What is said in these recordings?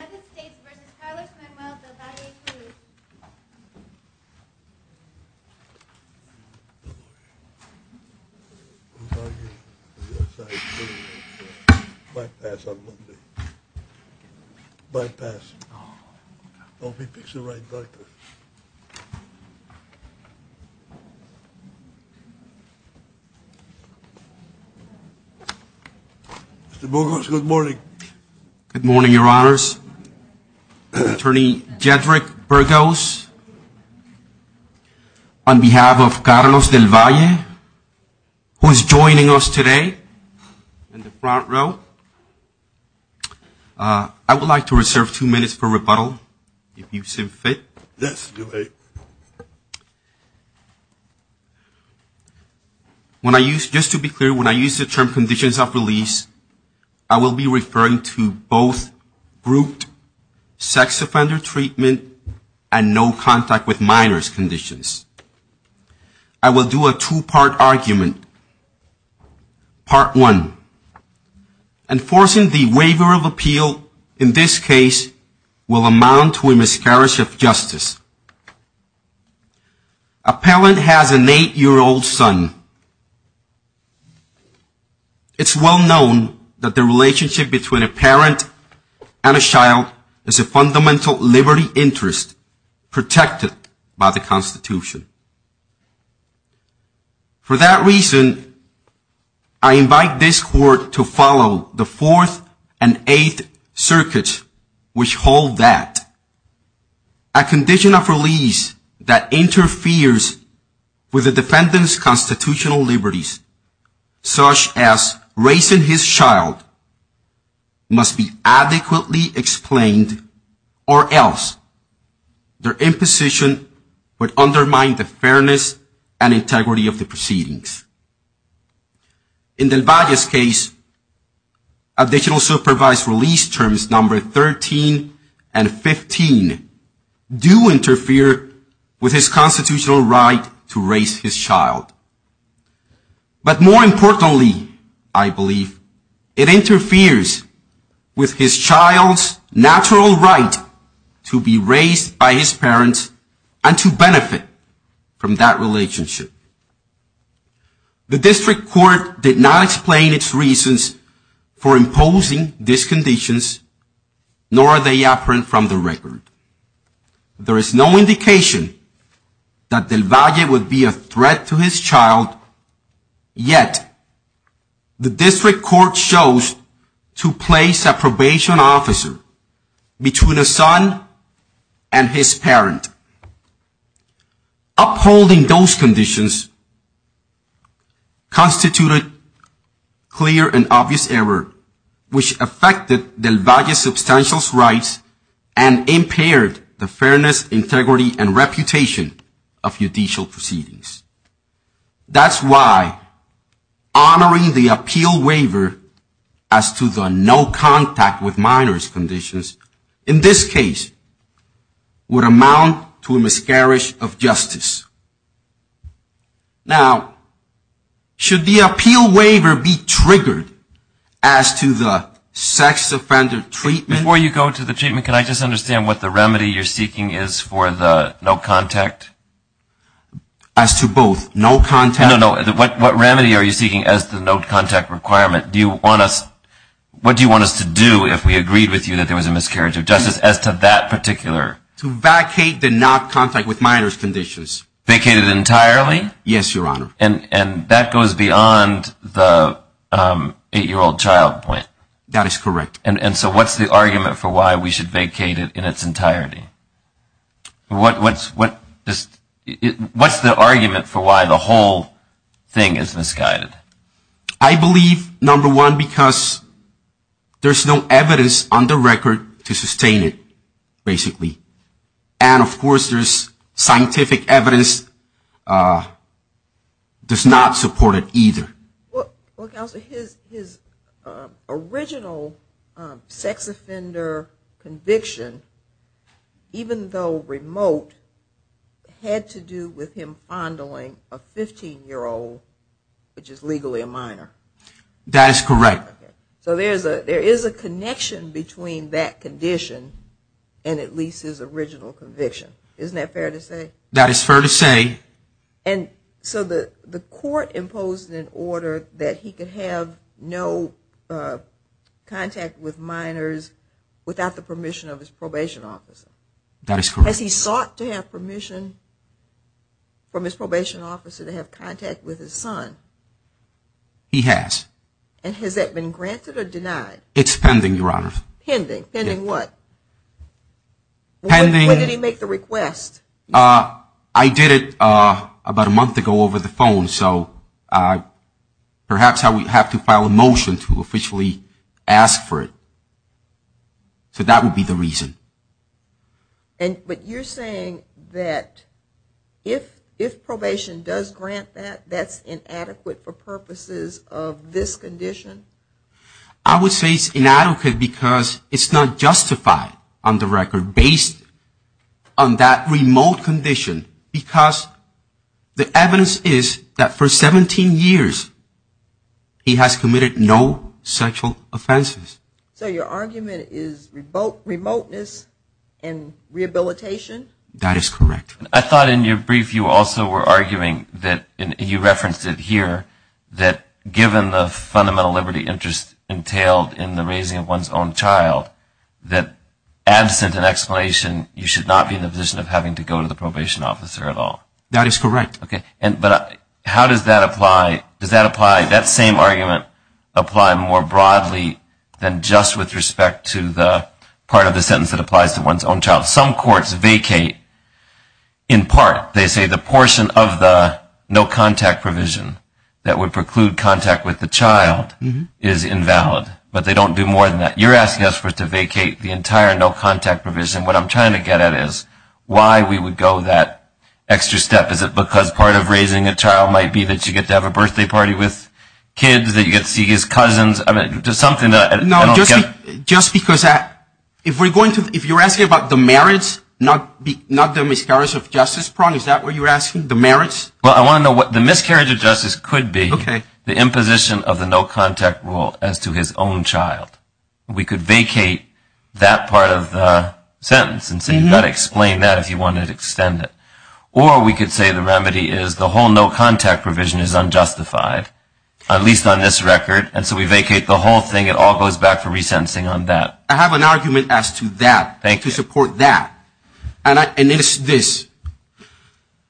United States v. Carlos Manuel Del-Valle-Cruz Mr. Burgos, good morning. Good morning, your honors. Attorney Jedrick Burgos, on behalf of Carlos Del-Valle, who is joining us today in the front row, I would like to reserve two minutes for rebuttal, if you so fit. Yes, you may. When I use, just to be clear, when I use the term conditions of release, I will be referring to both grouped sex offender treatment and no contact with minors conditions. I will do a two-part argument. Part one. Enforcing the waiver of appeal in this case will amount to a miscarriage of justice. A parent has an eight-year-old son. It's well known that the relationship between a parent and a child is a fundamental liberty interest protected by the Constitution. For that reason, I invite this Court to follow the Fourth and Eighth Circuits, which hold that a condition of release that interferes with the defendant's constitutional liberties, such as raising his child, must be adequately explained or else their imposition would undermine the fairness and integrity of the proceedings. In Del-Valle's case, additional supervised release terms number 13 and 15 do interfere with his constitutional right to raise his child. But more importantly, I believe, it interferes with his child's natural right to be raised by his parents and to benefit from that relationship. The District Court did not explain its reasons for imposing these conditions, nor are they apparent from the record. There is no indication that Del-Valle would be a threat to his child, yet the District Court chose to place a probation officer between a son and his parent. Upholding those conditions constituted clear and obvious error, which affected Del-Valle's substantial rights and impaired the fairness, integrity, and reputation of judicial proceedings. That's why honoring the appeal waiver as to the no contact with minors conditions, in this case, would amount to a miscarriage of justice. Now, should the appeal waiver be triggered as to the sex offender treatment? Before you go to the treatment, can I just understand what the remedy you're seeking is for the no contact? As to both, no contact. No, no. What remedy are you seeking as to the no contact requirement? What do you want us to do if we agreed with you that there was a miscarriage of justice as to that particular? To vacate the no contact with minors conditions. Vacate it entirely? Yes, Your Honor. And that goes beyond the eight-year-old child point? That is correct. And so what's the argument for why we should vacate it in its entirety? What's the argument for why the whole thing is misguided? I believe, number one, because there's no evidence on the record to sustain it, basically. And, of course, there's scientific evidence does not support it either. Well, Counselor, his original sex offender conviction, even though remote, had to do with him fondling a 15-year-old, which is legally a minor. That is correct. So there is a connection between that condition and at least his original conviction. Isn't that fair to say? That is fair to say. And so the court imposed an order that he could have no contact with minors without the permission of his probation officer. That is correct. Has he sought to have permission from his probation officer to have contact with his son? He has. And has that been granted or denied? It's pending, Your Honor. Pending. Pending what? When did he make the request? I did it about a month ago over the phone. So perhaps I would have to file a motion to officially ask for it. So that would be the reason. But you're saying that if probation does grant that, that's inadequate for purposes of this condition? I would say it's inadequate because it's not justified on the record based on that remote condition, because the evidence is that for 17 years he has committed no sexual offenses. So your argument is remoteness and rehabilitation? That is correct. I thought in your brief you also were arguing that, and you referenced it here, that given the fundamental liberty interest entailed in the raising of one's own child, that absent an explanation you should not be in the position of having to go to the probation officer at all. That is correct. Okay. But how does that apply? Does that apply, that same argument apply more broadly than just with respect to the part of the sentence that applies to one's own child? Some courts vacate in part. They say the portion of the no contact provision that would preclude contact with the child is invalid, but they don't do more than that. You're asking us to vacate the entire no contact provision. What I'm trying to get at is why we would go that extra step. Is it because part of raising a child might be that you get to have a birthday party with kids, that you get to see his cousins? No, just because if you're asking about the merits, not the miscarriage of justice problem, is that what you're asking, the merits? Well, I want to know what the miscarriage of justice could be, the imposition of the no contact rule as to his own child. We could vacate that part of the sentence and say you've got to explain that if you want to extend it. Or we could say the remedy is the whole no contact provision is unjustified, at least on this record, and so we vacate the whole thing. It all goes back to resentencing on that. I have an argument as to that. Thank you. To support that. And it is this.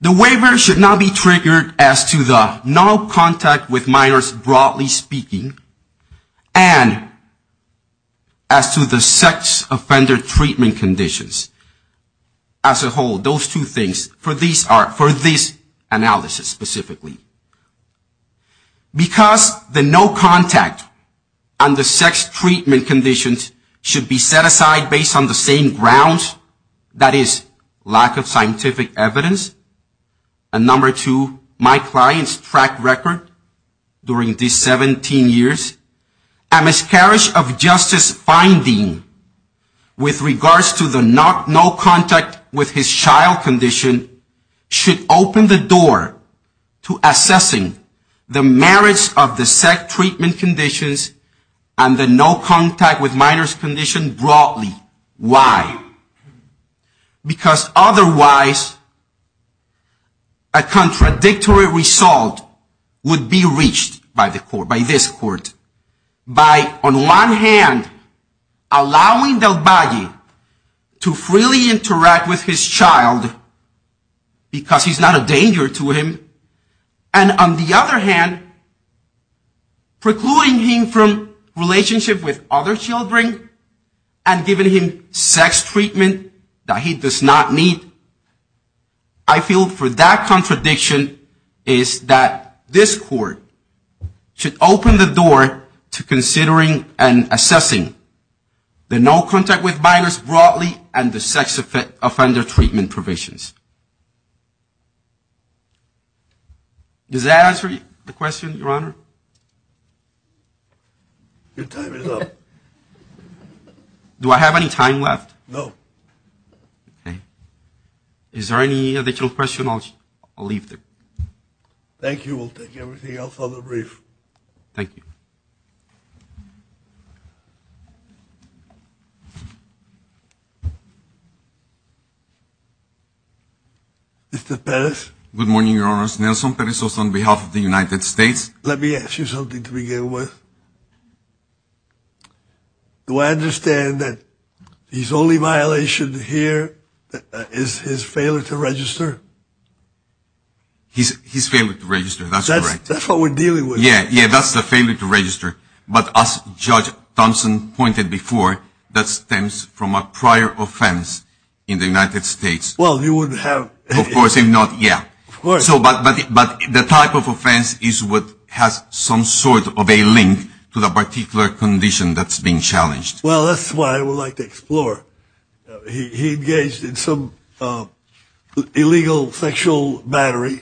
The waiver should not be triggered as to the no contact with minors, broadly speaking, and as to the sex offender treatment conditions as a whole, those two things, for this analysis specifically. Because the no contact on the sex treatment conditions should be set aside based on the same grounds, that is, lack of scientific evidence, and number two, my client's track record during these 17 years, a miscarriage of justice finding with regards to the no contact with his child condition should open the door to assessing the merits of the sex treatment conditions and the no contact with minors condition broadly. Why? Because otherwise a contradictory result would be reached by this court by, on one hand, allowing Del Baggi to freely interact with his child because he's not a danger to him, and on the other hand, precluding him from relationship with other children and giving him sex treatment that he does not need. I feel for that contradiction is that this court should open the door to considering and assessing the no contact with minors broadly and the sex offender treatment provisions. Does that answer the question, Your Honor? Your time is up. Do I have any time left? No. Okay. Is there any additional question? I'll leave it. Thank you. We'll take everything else on the brief. Thank you. Mr. Perez? Good morning, Your Honor. Nelson Perez on behalf of the United States. Let me ask you something to begin with. Do I understand that his only violation here is his failure to register? His failure to register, that's correct. That's what we're dealing with. Yeah, yeah, that's the failure to register. But as Judge Thompson pointed before, that stems from a prior offense in the United States. Well, you wouldn't have. Of course, if not, yeah. Of course. But the type of offense is what has some sort of a link to the particular condition that's being challenged. Well, that's what I would like to explore. He engaged in some illegal sexual battery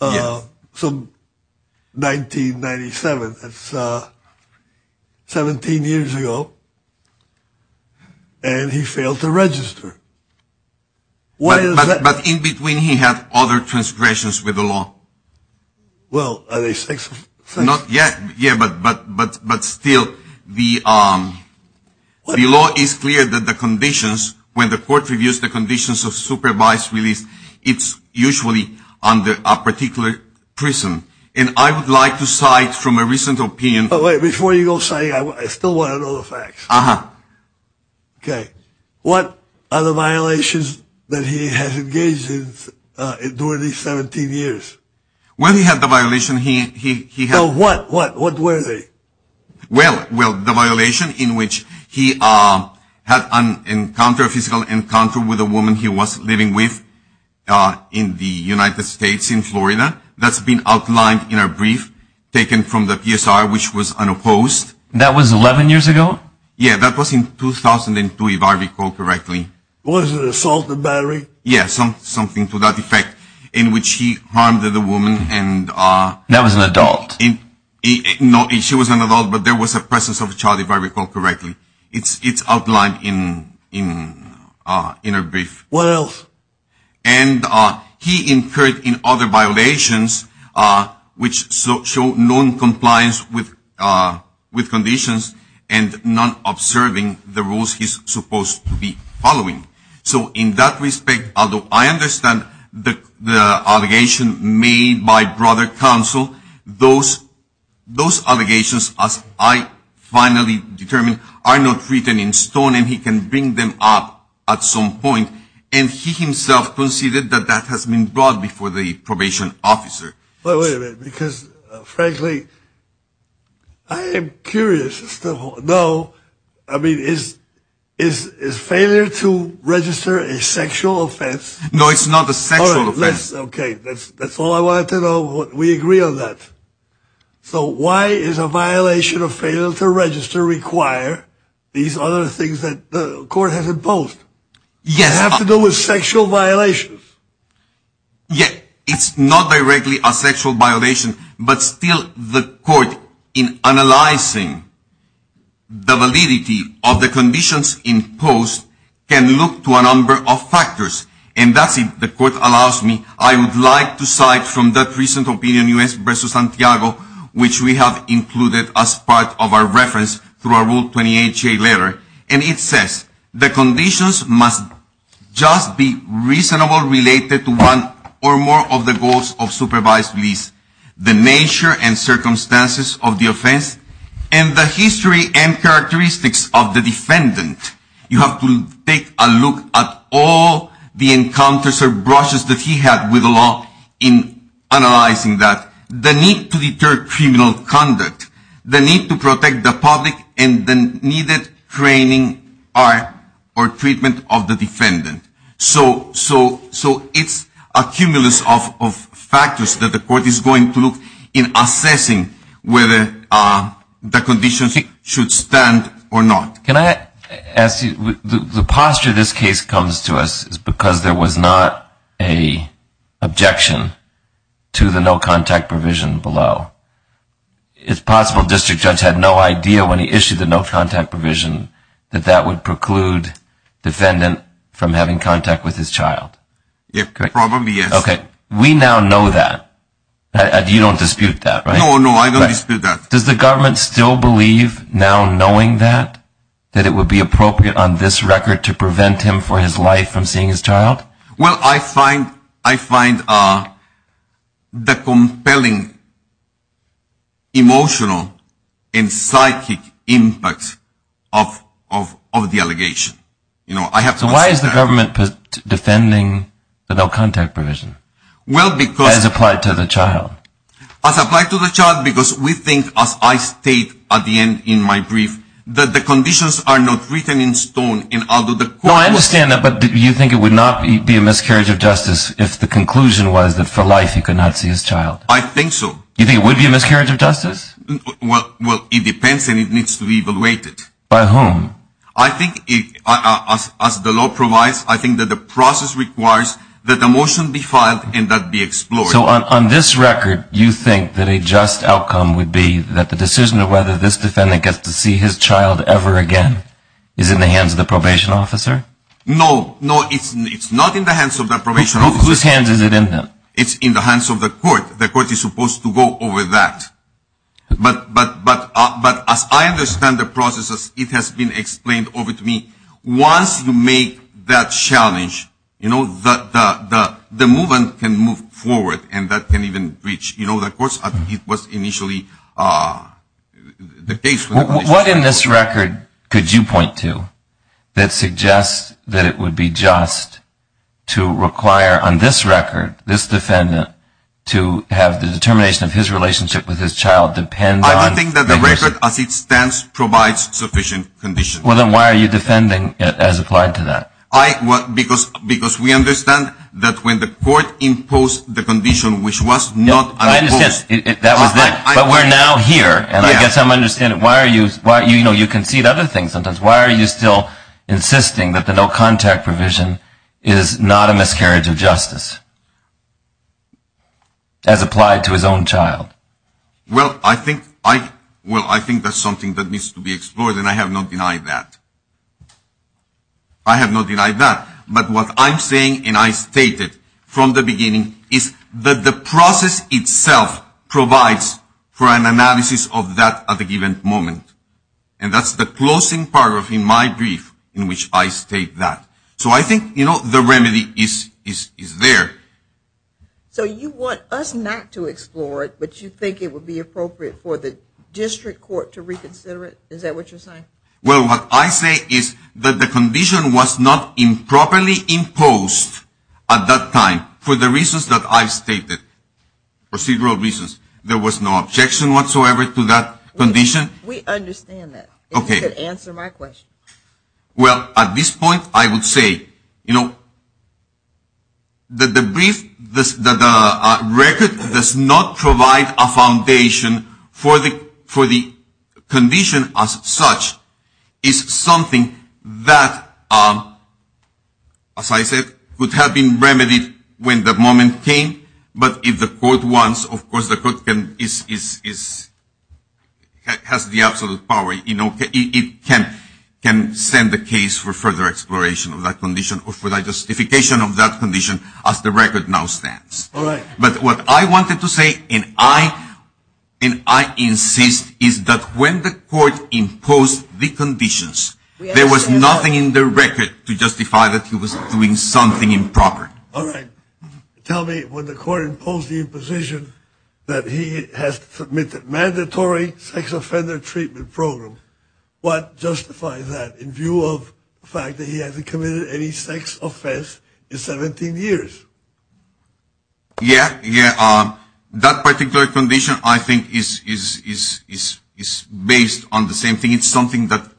some 1997. That's 17 years ago. And he failed to register. But in between, he had other transgressions with the law. Well, are they sex? Not yet, yeah, but still, the law is clear that the conditions, when the court reviews the conditions of supervised release, it's usually under a particular prison. And I would like to cite from a recent opinion. Wait, before you go citing, I still want to know the facts. Uh-huh. Okay. What are the violations that he has engaged in during these 17 years? Well, he had the violation he had. What? What were they? Well, the violation in which he had an encounter, a physical encounter, with a woman he was living with in the United States in Florida. That's been outlined in a brief taken from the PSR, which was unopposed. That was 11 years ago? Yeah, that was in 2002, if I recall correctly. Was it an assault and battery? Yeah, something to that effect, in which he harmed the woman. That was an adult? No, she was an adult, but there was a presence of a child, if I recall correctly. It's outlined in a brief. What else? And he incurred in other violations, which show noncompliance with conditions and not observing the rules he's supposed to be following. So in that respect, although I understand the allegation made by brother counsel, those allegations, as I finally determined, are not written in stone, and he can bring them up at some point. And he himself conceded that that has been brought before the probation officer. Wait a minute, because frankly, I am curious. No, I mean, is failure to register a sexual offense? No, it's not a sexual offense. Okay, that's all I wanted to know. We agree on that. So why is a violation of failure to register require these other things that the court has imposed? Yes. It has to do with sexual violations. Yes, it's not directly a sexual violation, but still the court, in analyzing the validity of the conditions imposed, can look to a number of factors, and that's it. The court allows me. I would like to cite from that recent opinion, U.S. v. Santiago, which we have included as part of our reference through our Rule 28-J letter, and it says the conditions must just be reasonable related to one or more of the goals of supervised release, the nature and circumstances of the offense, and the history and characteristics of the defendant. You have to take a look at all the encounters or brushes that he had with the law in analyzing that. The need to deter criminal conduct, the need to protect the public, and the needed training or treatment of the defendant. So it's a cumulus of factors that the court is going to look in assessing whether the conditions should stand or not. Can I ask you, the posture this case comes to us is because there was not an objection to the no-contact provision below. It's possible the district judge had no idea when he issued the no-contact provision that that would preclude the defendant from having contact with his child. Probably, yes. Okay. We now know that. You don't dispute that, right? No, no, I don't dispute that. Does the government still believe, now knowing that, that it would be appropriate on this record to prevent him for his life from seeing his child? Well, I find the compelling emotional and psychic impact of the allegation. So why is the government defending the no-contact provision as applied to the child? As applied to the child because we think, as I state at the end in my brief, that the conditions are not written in stone. No, I understand that, but do you think it would not be a miscarriage of justice if the conclusion was that for life he could not see his child? I think so. Do you think it would be a miscarriage of justice? Well, it depends and it needs to be evaluated. By whom? I think, as the law provides, I think that the process requires that the motion be filed and that be explored. So on this record, you think that a just outcome would be that the decision of whether this defendant gets to see his child ever again is in the hands of the probation officer? No, no, it's not in the hands of the probation officer. Whose hands is it in then? It's in the hands of the court. The court is supposed to go over that. But as I understand the process, it has been explained over to me, once you make that challenge, you know, the movement can move forward and that can even reach, you know, the courts. It was initially the case. What in this record could you point to that suggests that it would be just to require, on this record, this defendant to have the determination of his relationship with his child depend on? I don't think that the record as it stands provides sufficient conditions. Well, then why are you defending it as applied to that? Because we understand that when the court imposed the condition which was not imposed. But we're now here, and I guess I'm understanding, you know, you concede other things sometimes. Why are you still insisting that the no-contact provision is not a miscarriage of justice as applied to his own child? Well, I think that's something that needs to be explored, and I have not denied that. I have not denied that. But what I'm saying, and I stated from the beginning, is that the process itself provides for an analysis of that at a given moment. And that's the closing paragraph in my brief in which I state that. So I think, you know, the remedy is there. So you want us not to explore it, but you think it would be appropriate for the district court to reconsider it? Is that what you're saying? Well, what I say is that the condition was not improperly imposed at that time for the reasons that I stated, procedural reasons. There was no objection whatsoever to that condition. We understand that. Okay. If you could answer my question. Well, at this point, I would say, you know, that the record does not provide a foundation for the condition as such. It's something that, as I said, would have been remedied when the moment came. But if the court wants, of course the court has the absolute power. It can send a case for further exploration of that condition or for the justification of that condition as the record now stands. All right. But what I wanted to say, and I insist, is that when the court imposed the conditions, there was nothing in the record to justify that he was doing something improper. All right. Tell me, when the court imposed the imposition that he has submitted mandatory sex offender treatment program, what justifies that in view of the fact that he hasn't committed any sex offense in 17 years? Yeah, yeah. That particular condition, I think, is based on the same thing. It's something that,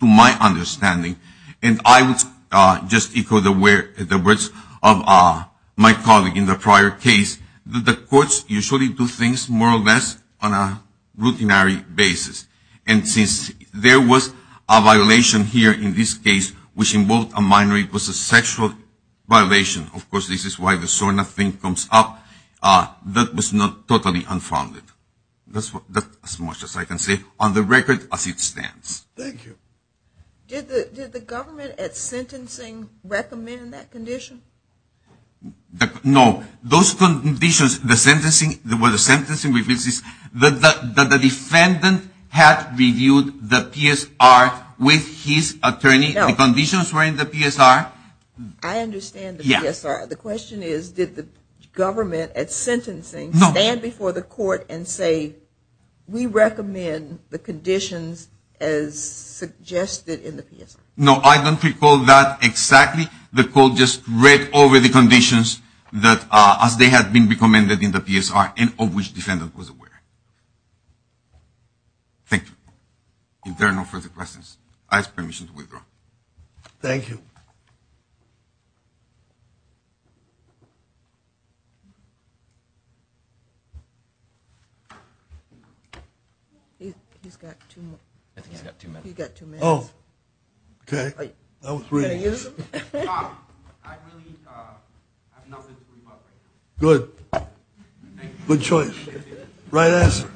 to my understanding, and I would just echo the words of my colleague in the prior case, that the courts usually do things more or less on a routinary basis. And since there was a violation here in this case, which involved a minor, it was a sexual violation. Of course, this is why the SORNA thing comes up. That was not totally unfounded. That's as much as I can say on the record as it stands. Thank you. Did the government at sentencing recommend that condition? No. Those conditions, the sentencing, the defendant had reviewed the PSR with his attorney. No. The conditions were in the PSR. I understand the PSR. Yeah. The question is, did the government at sentencing stand before the court and say, we recommend the conditions as suggested in the PSR? No, I don't recall that exactly. The court just read over the conditions as they had been recommended in the PSR and of which the defendant was aware. Thank you. If there are no further questions, I ask permission to withdraw. Thank you. He's got two minutes. He's got two minutes. Oh. Okay. That was three minutes. Good. Thank you. Good choice. Right answer.